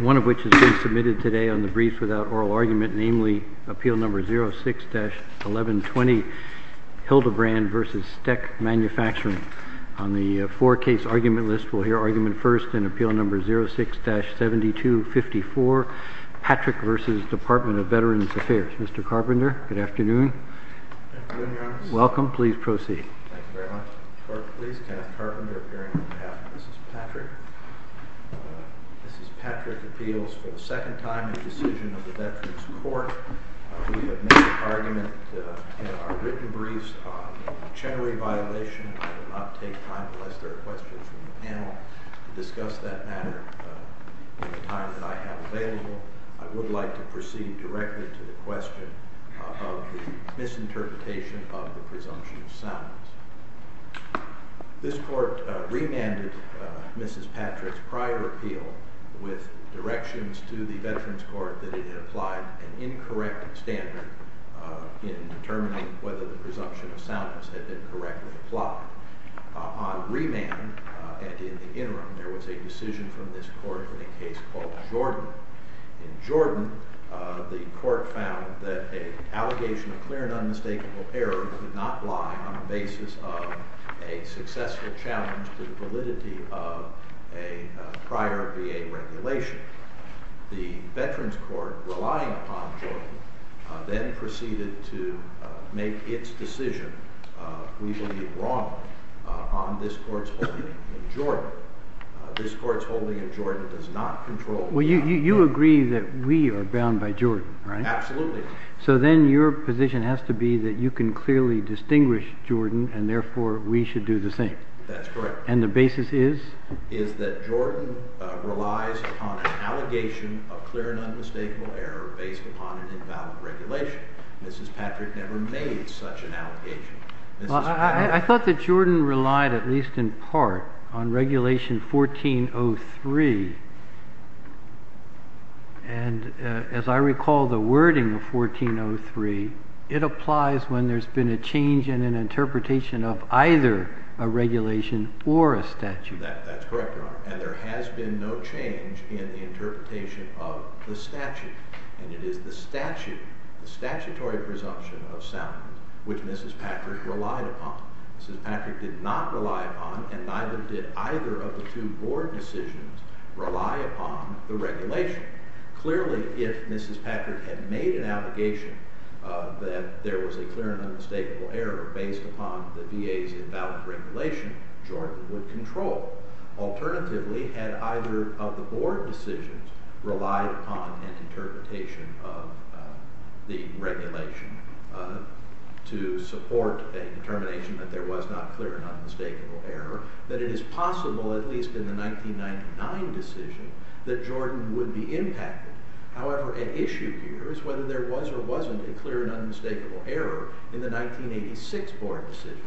One of which has been submitted today on the Briefs Without Oral Argument, namely, Appeal No. 06-1120, Hildebrand v. Steck Manufacturing. On the four-case argument list, we'll hear argument first in Appeal No. 06-7254, Patrick v. Department of Veterans Affairs. Mr. Carpenter, good afternoon. Welcome, please proceed. Thank you very much. Clerk, please cast Carpenter appearing on behalf of Mrs. Patrick. Mrs. Patrick appeals for the second time a decision of the Veterans Court. We have made an argument in our written briefs on the Chenery violation. I will not take time unless there are questions from the panel to discuss that matter in the time that I have available. I would like to proceed directly to the question of the misinterpretation of the presumption of soundness. This Court remanded Mrs. Patrick's prior appeal with directions to the Veterans Court that it had applied an incorrect standard in determining whether the presumption of soundness had been correctly applied. On remand, and in the interim, there was a decision from this Court in a case called Jordan. In Jordan, the Court found that an allegation of clear and unmistakable error could not lie on the basis of a successful challenge to the validity of a prior VA regulation. The Veterans Court, relying upon Jordan, then proceeded to make its decision, we believe wrong, on this Court's holding of Jordan. This Court's holding of Jordan does not control. Well, you agree that we are bound by Jordan, right? Absolutely. So then your position has to be that you can clearly distinguish Jordan, and therefore we should do the same. That's correct. And the basis is? Is that Jordan relies upon an allegation of clear and unmistakable error based upon an invalid regulation. Mrs. Patrick never made such an allegation. I thought that Jordan relied at least in part on Regulation 1403, and as I recall the wording of 1403, it applies when there's been a change in an interpretation of either a regulation or a statute. That's correct, and there has been no change in the interpretation of the statute, and it is the statute, the statutory presumption of soundness, which Mrs. Patrick relied upon. Mrs. Patrick did not rely upon, and neither did either of the two Board decisions rely upon the regulation. Clearly, if Mrs. Patrick had made an allegation that there was a clear and unmistakable error based upon the VA's invalid regulation, Jordan would control. Alternatively, had either of the Board decisions relied upon an interpretation of the regulation to support a determination that there was not clear and unmistakable error, then it is possible, at least in the 1999 decision, that Jordan would be impacted. However, at issue here is whether there was or wasn't a clear and unmistakable error in the 1986 Board decision.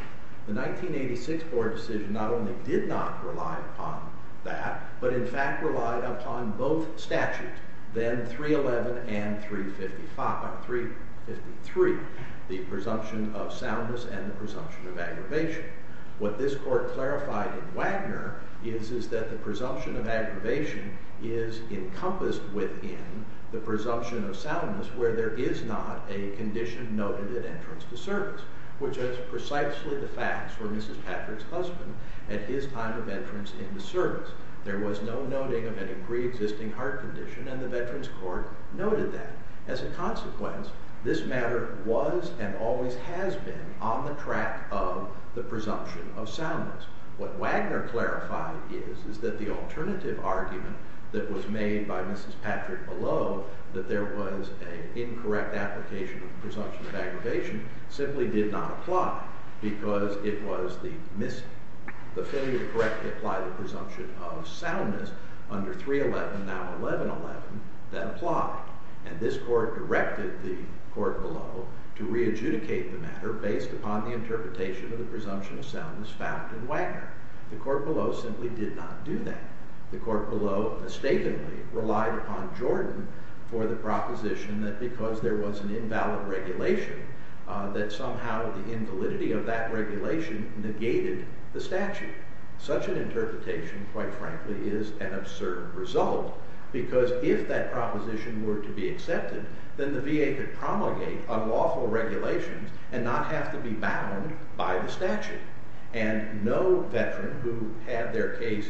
The 1986 Board decision not only did not rely upon that, but in fact relied upon both statutes, then 311 and 353, the presumption of soundness and the presumption of aggravation. What this Court clarified in Wagner is that the presumption of aggravation is encompassed within the presumption of soundness where there is not a condition noted at entrance to service, which is precisely the facts for Mrs. Patrick's husband at his time of entrance into service. There was no noting of any pre-existing heart condition, and the Veterans Court noted that. As a consequence, this matter was and always has been on the track of the presumption of soundness. What Wagner clarified is that the alternative argument that was made by Mrs. Patrick below, that there was an incorrect application of the presumption of aggravation, simply did not apply because it was the failure to correctly apply the presumption of soundness under 311, now 1111, that applied. And this Court directed the Court below to re-adjudicate the matter based upon the interpretation of the presumption of soundness found in Wagner. The Court below simply did not do that. The Court below mistakenly relied upon Jordan for the proposition that because there was an invalid regulation that somehow the invalidity of that regulation negated the statute. Such an interpretation, quite frankly, is an absurd result because if that proposition were to be accepted, then the statute, and no veteran who had their case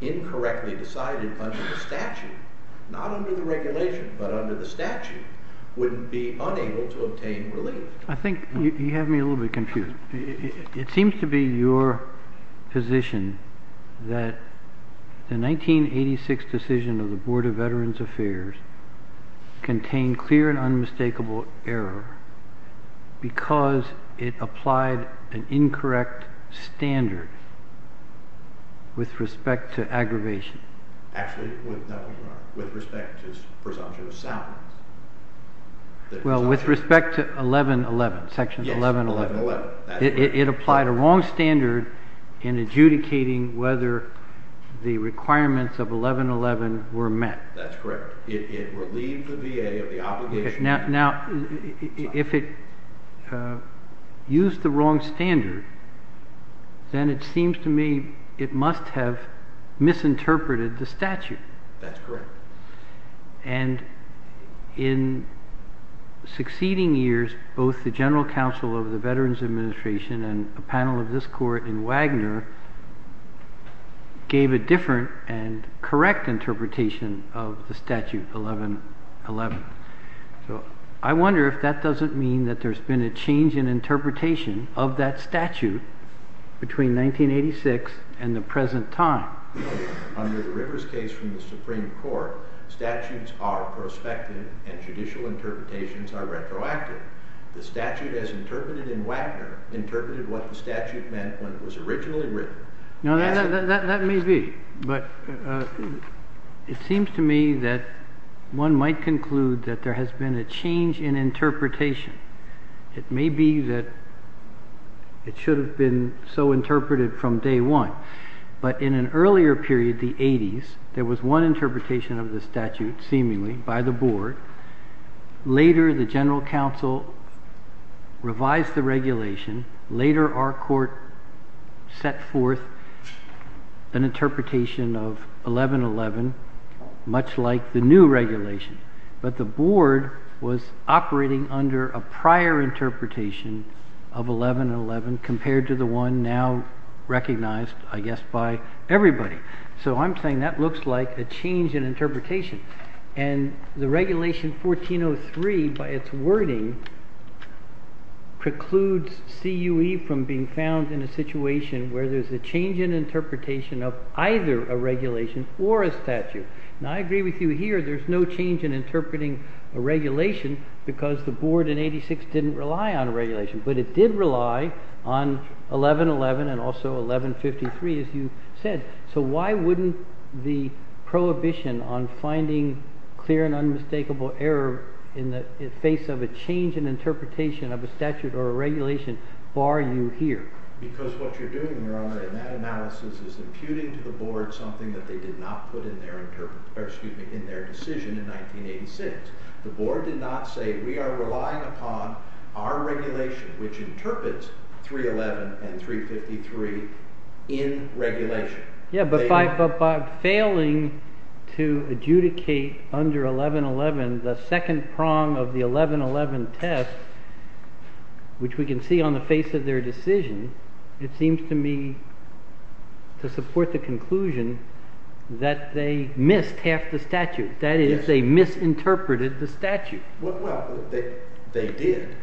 incorrectly decided under the statute, not under the regulation, but under the statute, would be unable to obtain relief. I think you have me a little bit confused. It seems to be your position that the 1986 decision of the Board of Veterans Affairs contained clear and unmistakable error because it applied an incorrect standard with respect to aggravation. Actually, with respect to presumption of soundness. Well, with respect to 1111, Section 1111. Yes, 1111. It applied a wrong standard in adjudicating whether the requirements of 1111 were met. That's correct. It relieved the VA of the obligation. Okay. Now, if it used the wrong standard, then it seems to me it must have misinterpreted the statute. That's correct. And in succeeding years, both the General Counsel of the Veterans Administration and the panel of this court in Wagner gave a different and correct interpretation of the statute 1111. So, I wonder if that doesn't mean that there's been a change in interpretation of that statute between 1986 and the present time. Under the Rivers case from the Supreme Court, statutes are prospective and judicial when it was originally written. Now, that may be, but it seems to me that one might conclude that there has been a change in interpretation. It may be that it should have been so interpreted from day one, but in an earlier period, the 80s, there was one interpretation of the statute seemingly by the board. Later, the General Counsel revised the regulation. Later, our court set forth an interpretation of 1111, much like the new regulation, but the board was operating under a prior interpretation of 1111 compared to the one now recognized, I guess, by everybody. So, I'm saying that looks like a change in interpretation. And the regulation 1403, by its wording, precludes CUE from being found in a situation where there's a change in interpretation of either a regulation or a statute. Now, I agree with you here, there's no change in interpreting a regulation because the board in 86 didn't rely on a regulation, but it did rely on 1111 and also 1153, as you said. So, why wouldn't the prohibition on finding clear and unmistakable error in the face of a change in interpretation of a statute or a regulation bar you here? Because what you're doing, Your Honor, in that analysis is imputing to the board something that they did not put in their decision in 1986. The board did not say, we are relying upon our regulation, which interprets 311 and 353 in regulation. Yeah, but by failing to adjudicate under 1111 the second prong of the 1111 test, which we can see on the face of their decision, it seems to me to support the conclusion that they missed half the statute. That is, they misinterpreted the statute. Well, they did,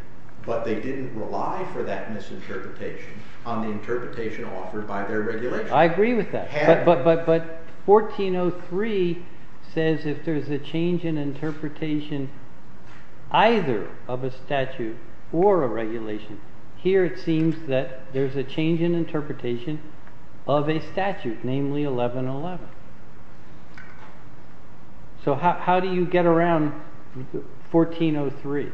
but they didn't rely for that misinterpretation on the interpretation offered by their regulation. I agree with that, but 1403 says if there's a change in interpretation either of a statute or a regulation, here it seems that there's a change in interpretation of a statute, namely 1111. So how do you get around 1403?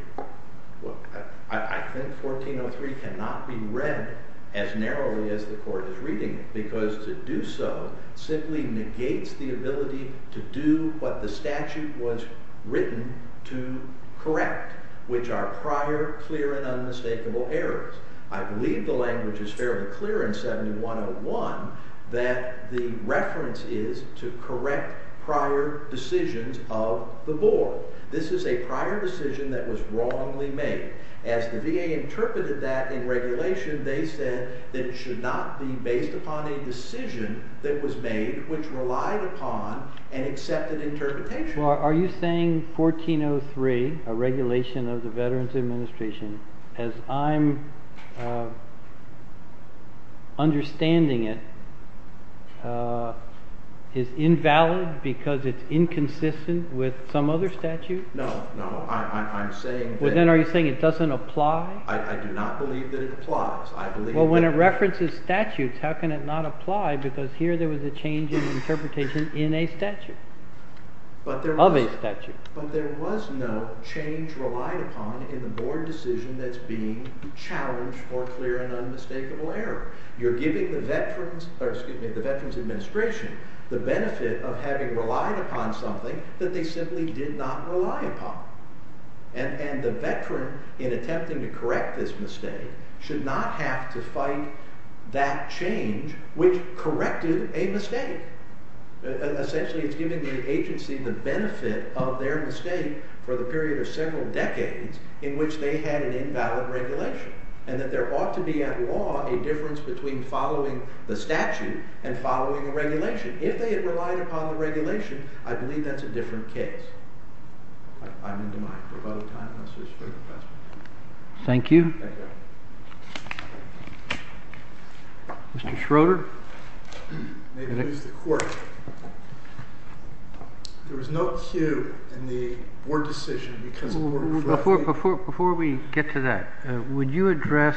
I think 1403 cannot be read as narrowly as the court is reading it, because to do so simply negates the ability to do what the statute was written to correct, which are prior, clear, and unmistakable errors. I believe the language is fairly clear in 7101 that the reference is to correct prior decisions of the board. This is a prior decision that was wrongly made. As the VA interpreted that in regulation, they said that it should not be based upon a decision that was made which relied upon an accepted interpretation. Are you saying 1403, a regulation of the Veterans Administration, as I'm understanding it, is invalid because it's inconsistent with some other statute? No, no. I'm saying that... Well, then are you saying it doesn't apply? I do not believe that it applies. Well, when it references statutes, how can it not apply, because here there was a change in interpretation in a statute? Of a statute. But there was no change relied upon in the board decision that's being challenged for clear and unmistakable error. You're giving the Veterans Administration the benefit of having relied upon something that they simply did not rely upon. And the veteran, in attempting to correct this mistake, should not have to fight that change, which corrected a mistake. Essentially, it's giving the agency the benefit of their mistake for the period of several decades in which they had an invalid regulation. And that there ought to be, at law, a difference between following the statute and following a regulation. If they had relied upon the regulation, I believe that's a different case. I'm into my rebuttal time. I'm so sorry. Thank you. Mr. Schroeder? Maybe it's the court. There was no cue in the board decision because of order of authority. Before we get to that, would you address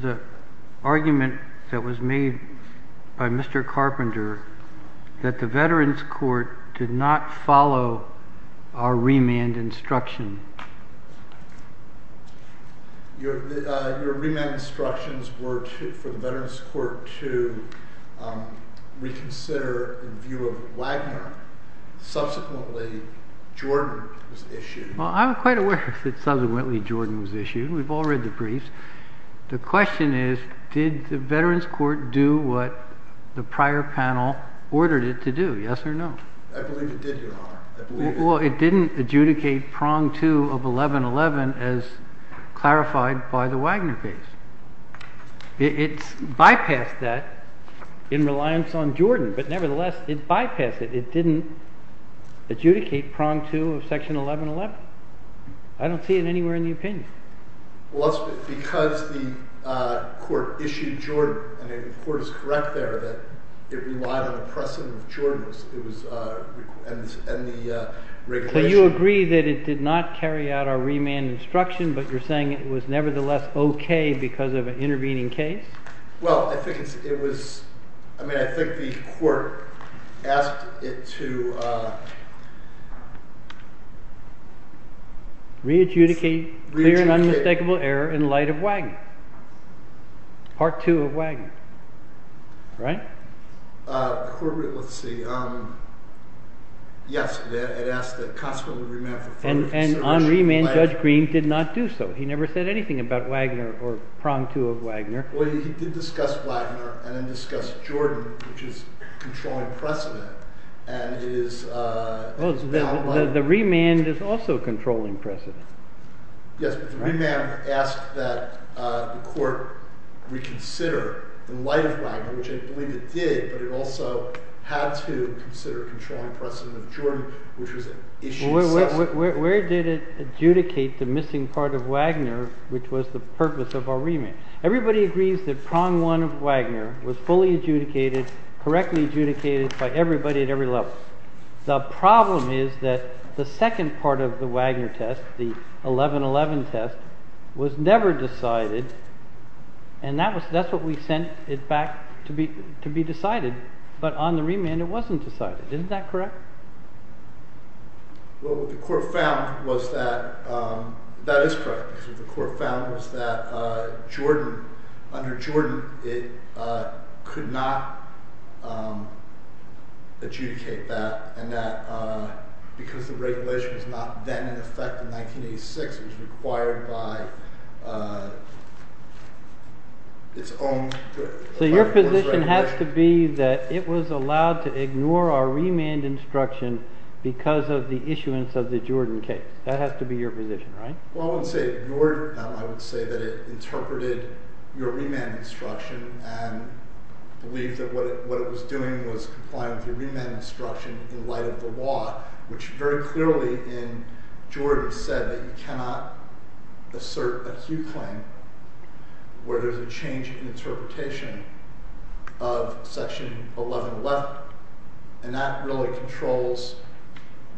the argument that was made by Mr. Carpenter that the Veterans Court did not follow our remand instruction? Your remand instructions were for the Veterans Court to reconsider in view of Wagner. Subsequently, Jordan was issued. Well, I'm quite aware that subsequently Jordan was issued. We've all read the briefs. The question is, did the Veterans Court do what the prior panel ordered it to do, yes or no? I believe it did, Your Honor. Well, it didn't adjudicate prong two of 1111 as clarified by the Wagner case. It bypassed that in reliance on Jordan, but nevertheless, it bypassed it. It didn't adjudicate prong two of section 1111. I don't see it anywhere in the opinion. Well, that's because the court issued Jordan, and the court is correct there that it relied on a precedent of Jordan and the regulation. So you agree that it did not carry out our remand instruction, but you're saying it was nevertheless okay because of an intervening case? Well, I think it was, I mean, I think the court asked it to... Re-adjudicate clear and unmistakable error in light of Wagner, part two of Wagner, right? The court, let's see, yes, it asked the constitutional remand for further consideration of Wagner. And on remand, Judge Green did not do so. He never said anything about Wagner or prong two of Wagner. Well, he did discuss Wagner and then discuss Jordan, which is controlling precedent, and it is... The remand is also controlling precedent. Yes, but the remand asked that the court reconsider the light of Wagner, which I believe it did, but it also had to consider controlling precedent of Jordan, which was issued... Where did it adjudicate the missing part of Wagner, which was the purpose of our remand? Everybody agrees that prong one of Wagner was fully adjudicated, correctly adjudicated, by everybody at every level. The problem is that the second part of the Wagner test, the 11-11 test, was never decided, and that's what we sent it back to be decided, but on the remand it wasn't decided. Isn't that correct? Well, what the court found was that, that is correct, because what the court found was that Jordan, under Jordan, it could not adjudicate that, and that because the regulation was not then in effect in 1986, it was required by its own... So your position has to be that it was allowed to ignore our remand instruction because of the issuance of the Jordan case. That has to be your position, right? Well, I would say that it interpreted your remand instruction and believed that what it was doing was complying with your remand instruction in light of the law, which very clearly in Jordan said that you cannot assert a hue claim where there's a change in interpretation of section 11-11, and that really controls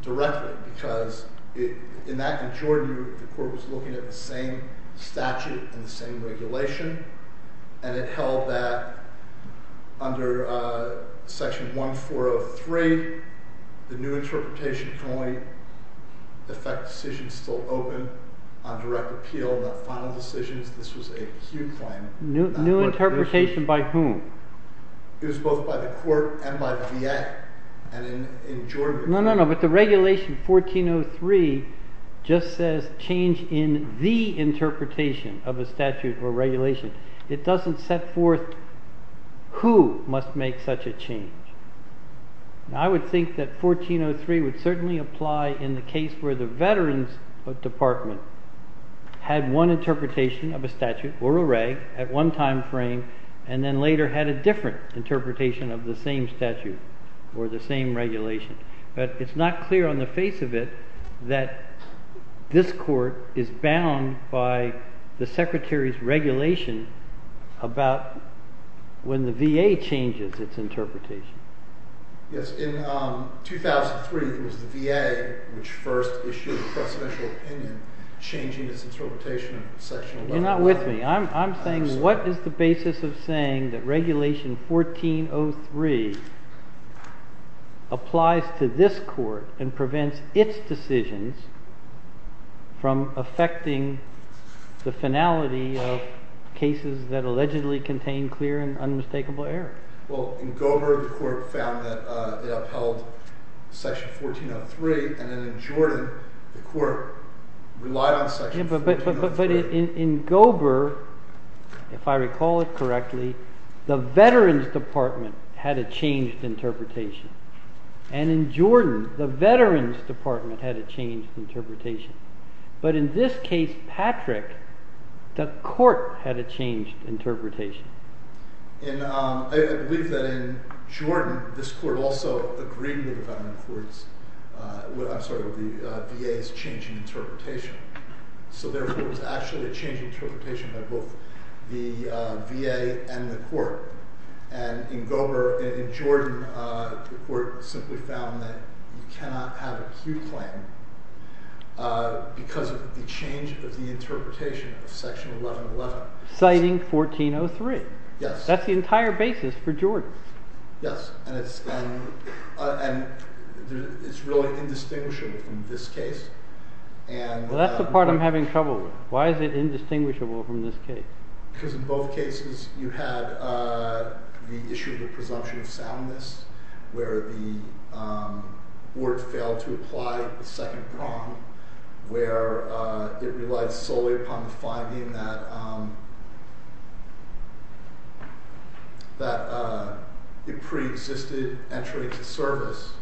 directly because in Jordan the court was looking at the same statute and the same regulation, and it held that under section 1403 the new interpretation can only affect decisions still open on direct appeal, not final decisions. This was a hue claim. New interpretation by whom? It was both by the court and by the VA, and in Jordan... No, no, no, but the regulation 1403 just says change in the interpretation of a statute or regulation. It doesn't set forth who must make such a change. I would think that 1403 would certainly apply in the case where the veterans department had one interpretation of a statute or a reg at one time frame, and then later had a different interpretation of the same statute or the same regulation, but it's not clear on the face of it that this court is bound by the secretary's regulation about when the VA changes its interpretation. Yes, in 2003 it was the VA which first issued a presidential opinion changing its interpretation of section 11-11. You're not with me. I'm saying what is the basis of saying that regulation 1403 applies to this court and prevents its decisions from affecting the finality of cases that allegedly contain clear and unmistakable error? Well, in Gober the court found that they upheld section 1403, and then in Jordan the court relied on section 1403. But in Gober, if I recall it correctly, the veterans department had a changed interpretation, and in Jordan the veterans department had a changed interpretation, but in this case, Patrick, the court had a changed interpretation. I believe that in Jordan this court also agreed with the VA's changing interpretation, so therefore it was actually a changed interpretation by both the VA and the court. And in Gober, in Jordan, the court simply found that you cannot have an acute claim because of the change of the interpretation of section 11-11. Citing 1403. That's the entire basis for Jordan. Yes, and it's really indistinguishable from this case. Well, that's the part I'm having trouble with. Why is it indistinguishable from this case? Because in both cases you had the issue of the presumption of soundness where the board failed to apply the second prong, where it relied solely upon the finding that it preexisted entry into service.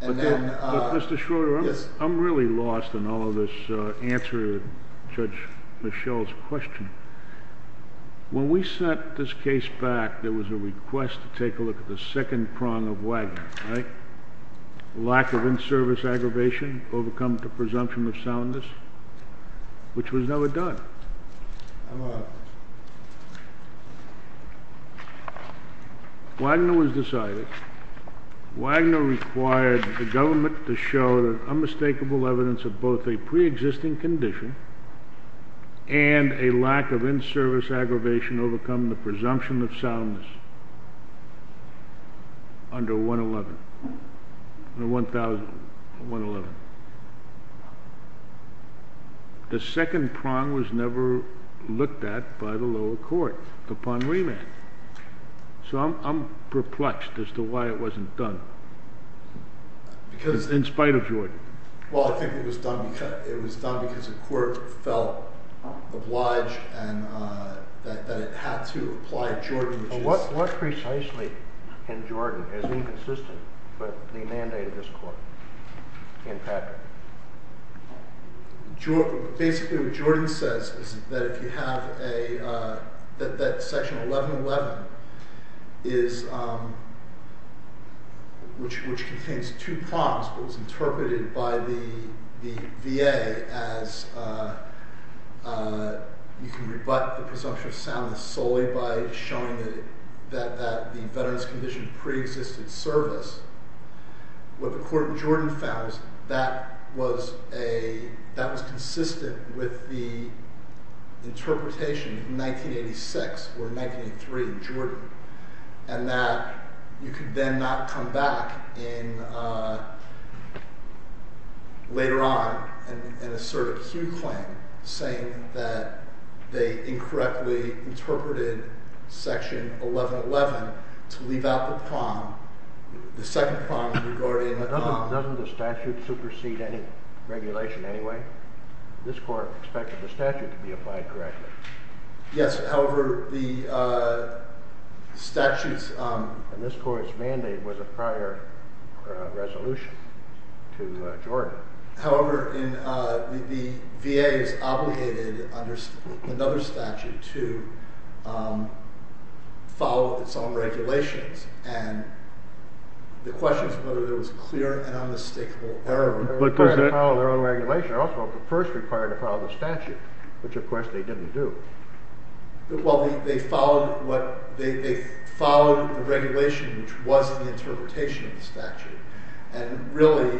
But Mr. Schroeder, I'm really lost in all of this answer to Judge Michel's question. When we sent this case back, there was a request to take a look at the second prong of Wagner, right? Lack of in-service aggravation, overcome to presumption of soundness, which was never done. Wagner was decided. Wagner required the government to show unmistakable evidence of both a preexisting condition and a lack of in-service aggravation overcoming the presumption of soundness under 111. The second prong was never looked at by the lower court upon remand. So I'm perplexed as to why it wasn't done in spite of Jordan. Well, I think it was done because the court felt obliged and that it had to apply Jordan. What precisely can Jordan, as inconsistent with the mandate of this court, impact it? Basically, what Jordan says is that Section 1111, which contains two prongs, was interpreted by the VA as you can rebut the presumption of soundness solely by showing that the veterans' condition preexisted service. What the court in Jordan found was that that was consistent with the interpretation in 1986 or 1983 in Jordan and that you could then not come back later on and assert a claim saying that they incorrectly interpreted Section 1111 to leave out the prong, the second prong regarding… Doesn't the statute supersede any regulation anyway? This court expected the statute to be applied correctly. Yes, however, the statute's… And this court's mandate was a prior resolution to Jordan. However, the VA is obligated under another statute to follow its own regulations. And the question is whether there was clear and unmistakable error. They were required to follow their own regulation. Also, the first required to follow the statute, which of course they didn't do. Well, they followed the regulation, which was the interpretation of the statute. And really,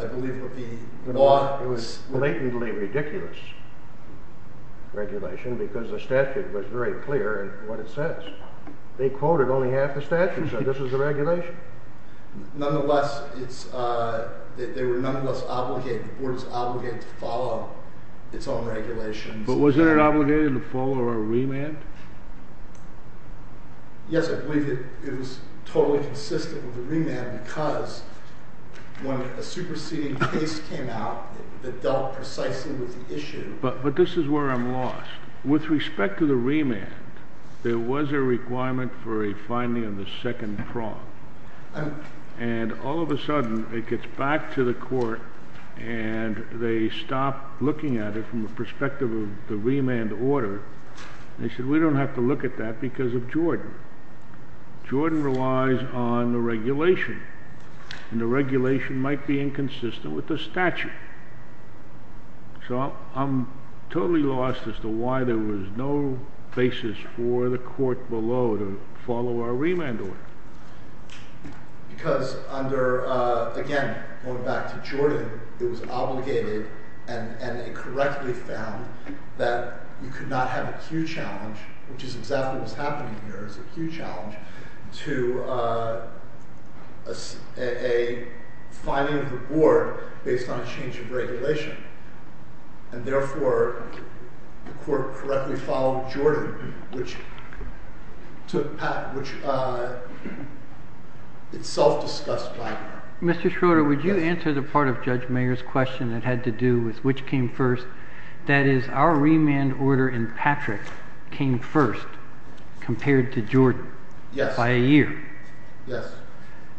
I believe what the law… It was a blatantly ridiculous regulation because the statute was very clear in what it says. They quoted only half the statute and said this is the regulation. Nonetheless, they were nonetheless obligated, the board was obligated to follow its own regulations. But wasn't it obligated to follow a remand? Yes, I believe it was totally consistent with the remand because when a superseding case came out that dealt precisely with the issue. But this is where I'm lost. With respect to the remand, there was a requirement for a finding of the second prong. And all of a sudden, it gets back to the court and they stop looking at it from the perspective of the remand order. They said we don't have to look at that because of Jordan. Jordan relies on the regulation and the regulation might be inconsistent with the statute. So, I'm totally lost as to why there was no basis for the court below to follow our remand order. Because under, again, going back to Jordan, it was obligated and they correctly found that you could not have a Q challenge, which is exactly what's happening here is a Q challenge, to a finding of the board based on a change of regulation. And therefore, the court correctly followed Jordan, which itself discussed by… Mr. Schroeder, would you answer the part of Judge Mayer's question that had to do with which came first? That is, our remand order in Patrick came first compared to Jordan by a year. Yes.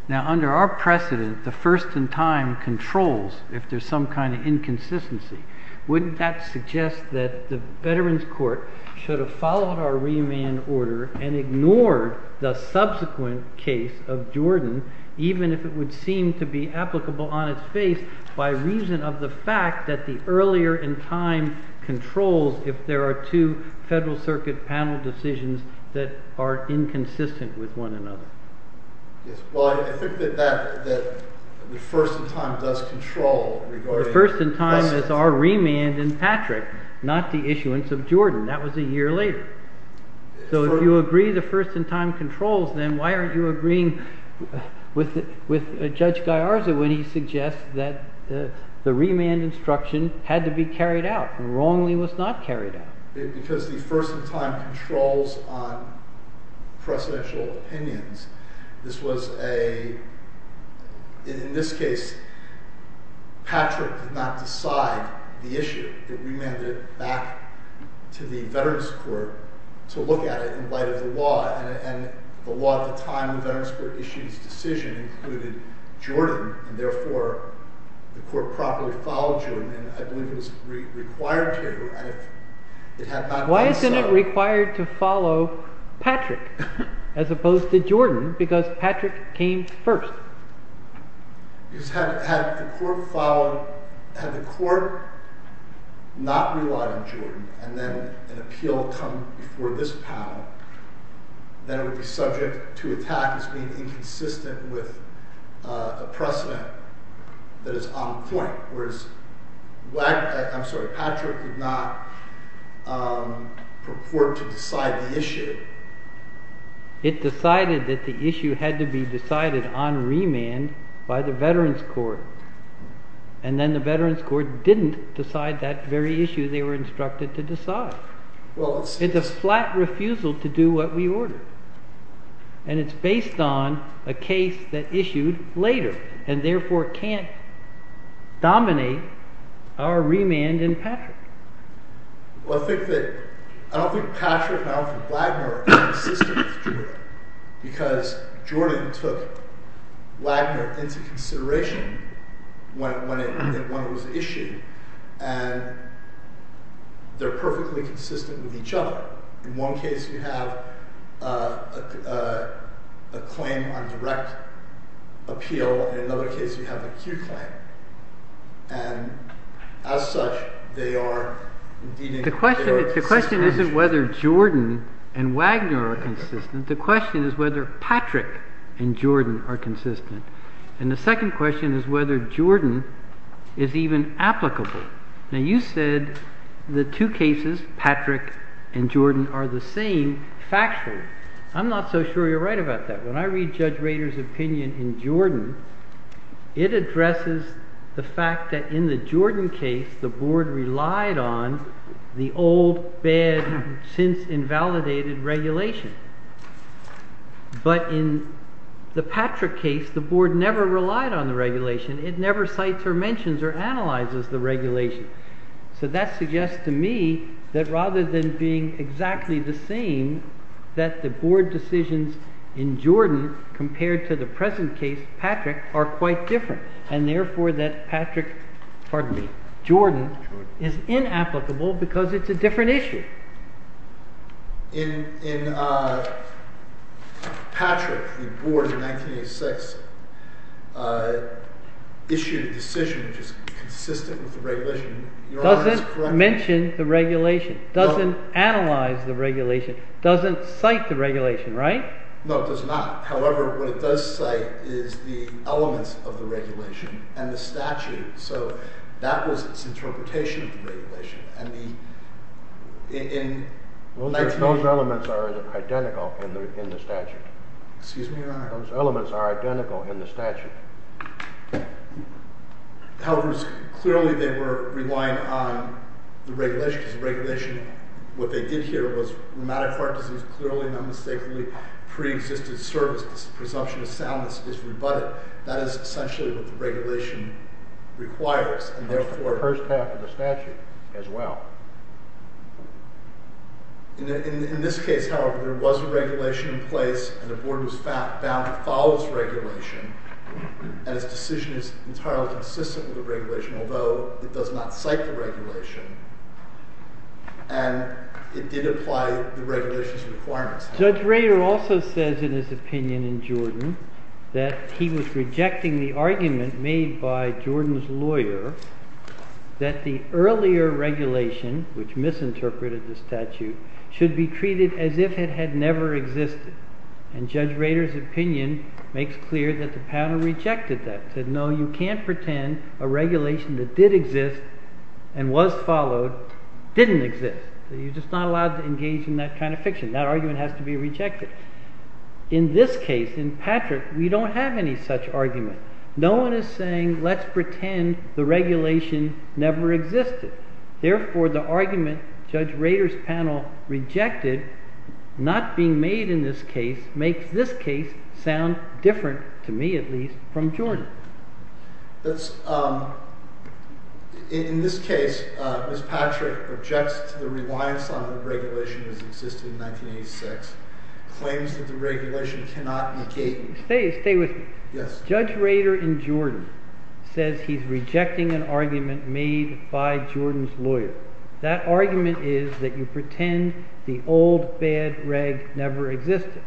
Now, under our precedent, the first in time controls if there's some kind of inconsistency. Wouldn't that suggest that the Veterans Court should have followed our remand order and ignored the subsequent case of Jordan, even if it would seem to be applicable on its face by reason of the fact that the earlier in time controls if there are two Federal Circuit panel decisions that are inconsistent with one another? Yes. Well, I think that the first in time does control regarding… The first in time is our remand in Patrick, not the issuance of Jordan. That was a year later. So if you agree the first in time controls, then why aren't you agreeing with Judge Gallarza when he suggests that the remand instruction had to be carried out and wrongly was not carried out? Because the first in time controls on precedential opinions. This was a… In this case, Patrick did not decide the issue. It remanded back to the Veterans Court to look at it in light of the law. And the law at the time the Veterans Court issued its decision included Jordan. And therefore, the court properly followed Jordan. And I believe it was required to. Why isn't it required to follow Patrick as opposed to Jordan because Patrick came first? Because had the court followed… Had the court not relied on Jordan and then an appeal come before this panel, then it would be subject to attack as being inconsistent with a precedent that is on point. Whereas Patrick did not purport to decide the issue. It decided that the issue had to be decided on remand by the Veterans Court. And then the Veterans Court didn't decide that very issue they were instructed to decide. It's a flat refusal to do what we ordered. And it's based on a case that issued later and therefore can't dominate our remand in Patrick. Well, I think that… I don't think Patrick and Alfred Wagner are consistent with Jordan because Jordan took Wagner into consideration when it was issued. And they're perfectly consistent with each other. In one case, you have a claim on direct appeal. In another case, you have an acute claim. And as such, they are… The question isn't whether Jordan and Wagner are consistent. The question is whether Patrick and Jordan are consistent. And the second question is whether Jordan is even applicable. Now, you said the two cases, Patrick and Jordan, are the same factually. I'm not so sure you're right about that. When I read Judge Rader's opinion in Jordan, it addresses the fact that in the Jordan case, the Board relied on the old, bad, since-invalidated regulation. But in the Patrick case, the Board never relied on the regulation. It never cites or mentions or analyzes the regulation. So that suggests to me that rather than being exactly the same, that the Board decisions in Jordan compared to the present case, Patrick, are quite different. And therefore that Patrick… pardon me… Jordan is inapplicable because it's a different issue. In Patrick, the Board in 1986 issued a decision which is consistent with the regulation. Doesn't mention the regulation, doesn't analyze the regulation, doesn't cite the regulation, right? No, it does not. However, what it does cite is the elements of the regulation and the statute. So that was its interpretation of the regulation. Those elements are identical in the statute. Excuse me, Your Honor. Those elements are identical in the statute. However, clearly they were relying on the regulation because the regulation, what they did here was rheumatic heart disease clearly and unmistakably pre-existed service. This presumption of soundness is rebutted. That is essentially what the regulation requires and therefore… The first half of the statute as well. In this case, however, there was a regulation in place and the Board was bound to follow this regulation and its decision is entirely consistent with the regulation, although it does not cite the regulation and it did apply the regulation's requirements. Judge Rader also says in his opinion in Jordan that he was rejecting the argument made by Jordan's lawyer that the earlier regulation, which misinterpreted the statute, should be treated as if it had never existed. And Judge Rader's opinion makes clear that the panel rejected that. It said, no, you can't pretend a regulation that did exist and was followed didn't exist. You're just not allowed to engage in that kind of fiction. That argument has to be rejected. In this case, in Patrick, we don't have any such argument. No one is saying let's pretend the regulation never existed. Therefore, the argument Judge Rader's panel rejected not being made in this case makes this case sound different, to me at least, from Jordan. In this case, Ms. Patrick objects to the reliance on the regulation that existed in 1986, claims that the regulation cannot be gated. Stay with me. Judge Rader in Jordan says he's rejecting an argument made by Jordan's lawyer. That argument is that you pretend the old bad reg never existed.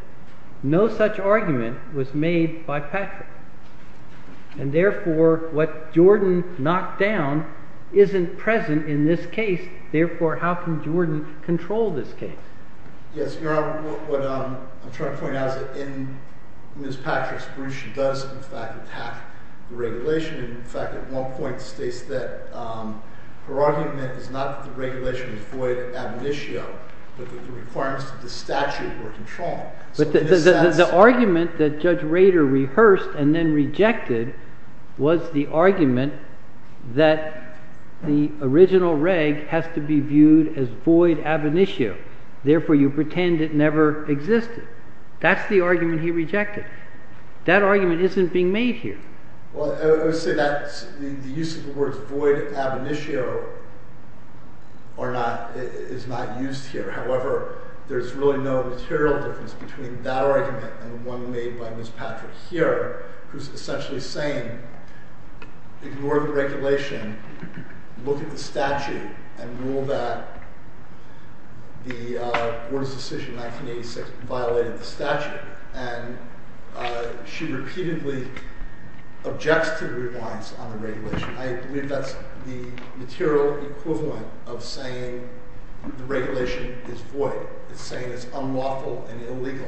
No such argument was made by Patrick. And therefore, what Jordan knocked down isn't present in this case. Therefore, how can Jordan control this case? Yes, Your Honor, what I'm trying to point out is that in Ms. Patrick's brief, she does, in fact, attack the regulation. In fact, at one point, states that her argument is not that the regulation avoided ab initio, but that the requirements of the statute were controlled. But the argument that Judge Rader rehearsed and then rejected was the argument that the original reg has to be viewed as void ab initio. Therefore, you pretend it never existed. That's the argument he rejected. That argument isn't being made here. Well, I would say that the use of the words void ab initio is not used here. However, there's really no material difference between that argument and one made by Ms. Patrick here, who's essentially saying ignore the regulation, look at the statute, and rule that the Board's decision in 1986 violated the statute. And she repeatedly objects to the reliance on the regulation. I believe that's the material equivalent of saying the regulation is void. It's saying it's unlawful and illegal.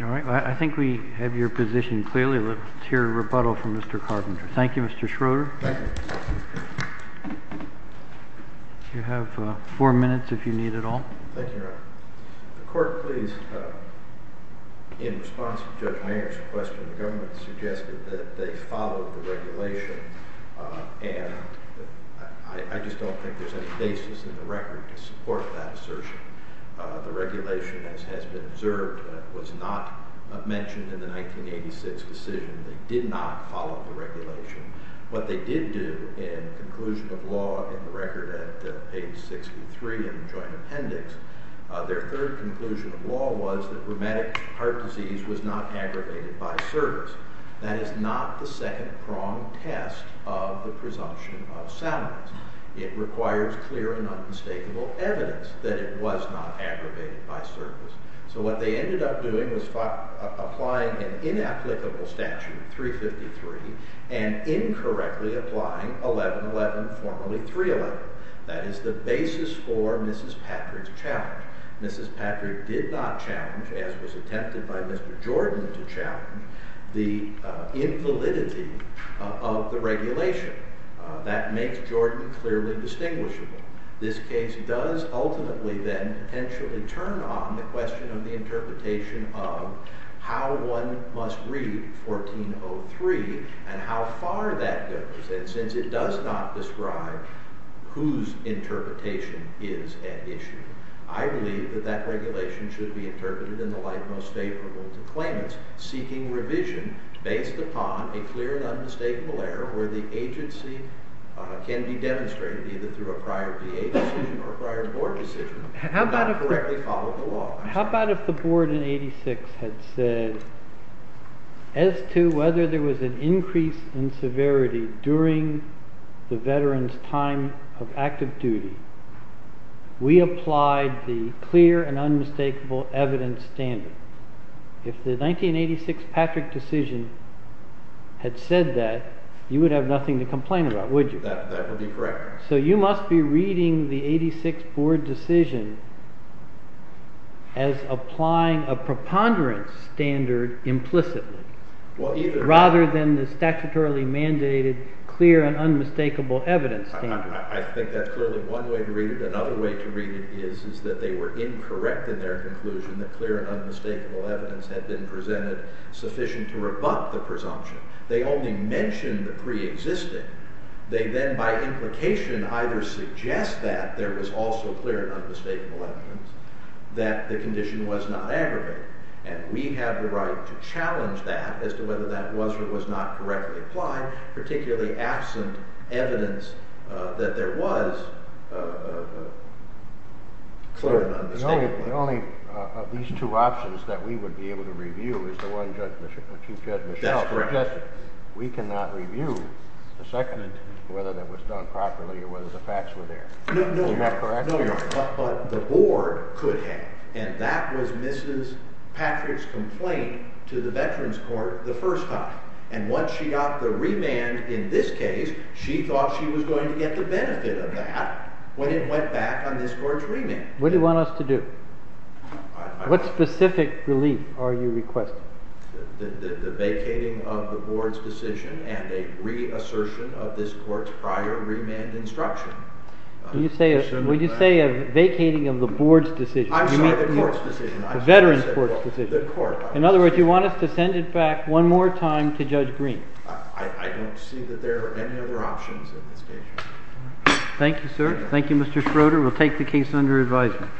All right. I think we have your position clearly. Let's hear a rebuttal from Mr. Carpenter. Thank you, Mr. Schroeder. Thank you. You have four minutes if you need it all. Thank you, Your Honor. The court please, in response to Judge Mayer's question, the government suggested that they follow the regulation. And I just don't think there's any basis in the record to support that assertion. The regulation, as has been observed, was not mentioned in the 1986 decision. They did not follow the regulation. What they did do in conclusion of law in the record at page 63 in the joint appendix, their third conclusion of law was that rheumatic heart disease was not aggravated by service. That is not the second-pronged test of the presumption of silence. It requires clear and unmistakable evidence that it was not aggravated by service. So what they ended up doing was applying an inapplicable statute, 353, and incorrectly applying 1111, formerly 311. That is the basis for Mrs. Patrick's challenge. Mrs. Patrick did not challenge, as was attempted by Mr. Jordan to challenge, the invalidity of the regulation. That makes Jordan clearly distinguishable. This case does ultimately then potentially turn on the question of the interpretation of how one must read 1403 and how far that goes since it does not describe whose interpretation is at issue. I believe that that regulation should be interpreted in the light most favorable to claimants seeking revision based upon a clear and unmistakable error where the agency can be demonstrated either through a prior DA decision or a prior board decision not correctly following the law. How about if the board in 1886 had said, as to whether there was an increase in severity during the veteran's time of active duty, we applied the clear and unmistakable evidence standard. If the 1986 Patrick decision had said that, you would have nothing to complain about, would you? That would be correct. So you must be reading the 86 board decision as applying a preponderance standard implicitly rather than the statutorily mandated clear and unmistakable evidence standard. I think that's clearly one way to read it. Another way to read it is that they were incorrect in their conclusion that clear and unmistakable evidence had been presented sufficient to rebut the presumption. They only mentioned the preexisting. They then, by implication, either suggest that there was also clear and unmistakable evidence that the condition was not aggravated. And we have the right to challenge that as to whether that was or was not correctly applied, particularly absent evidence that there was clear and unmistakable evidence. The only of these two options that we would be able to review is the one Judge Michelle suggested. We cannot review the second whether that was done properly or whether the facts were there. Is that correct? No, Your Honor. But the board could have. And that was Mrs. Patrick's complaint to the Veterans Court the first time. And once she got the remand in this case, she thought she was going to get the benefit of that when it went back on this court's remand. What do you want us to do? What specific relief are you requesting? The vacating of the board's decision and a reassertion of this court's prior remand instruction. Would you say a vacating of the board's decision? I'm sorry, the court's decision. The Veterans Court's decision. The court. In other words, you want us to send it back one more time to Judge Green. I don't see that there are any other options at this stage. Thank you, sir. Thank you, Mr. Schroeder. We'll take the case under advisement.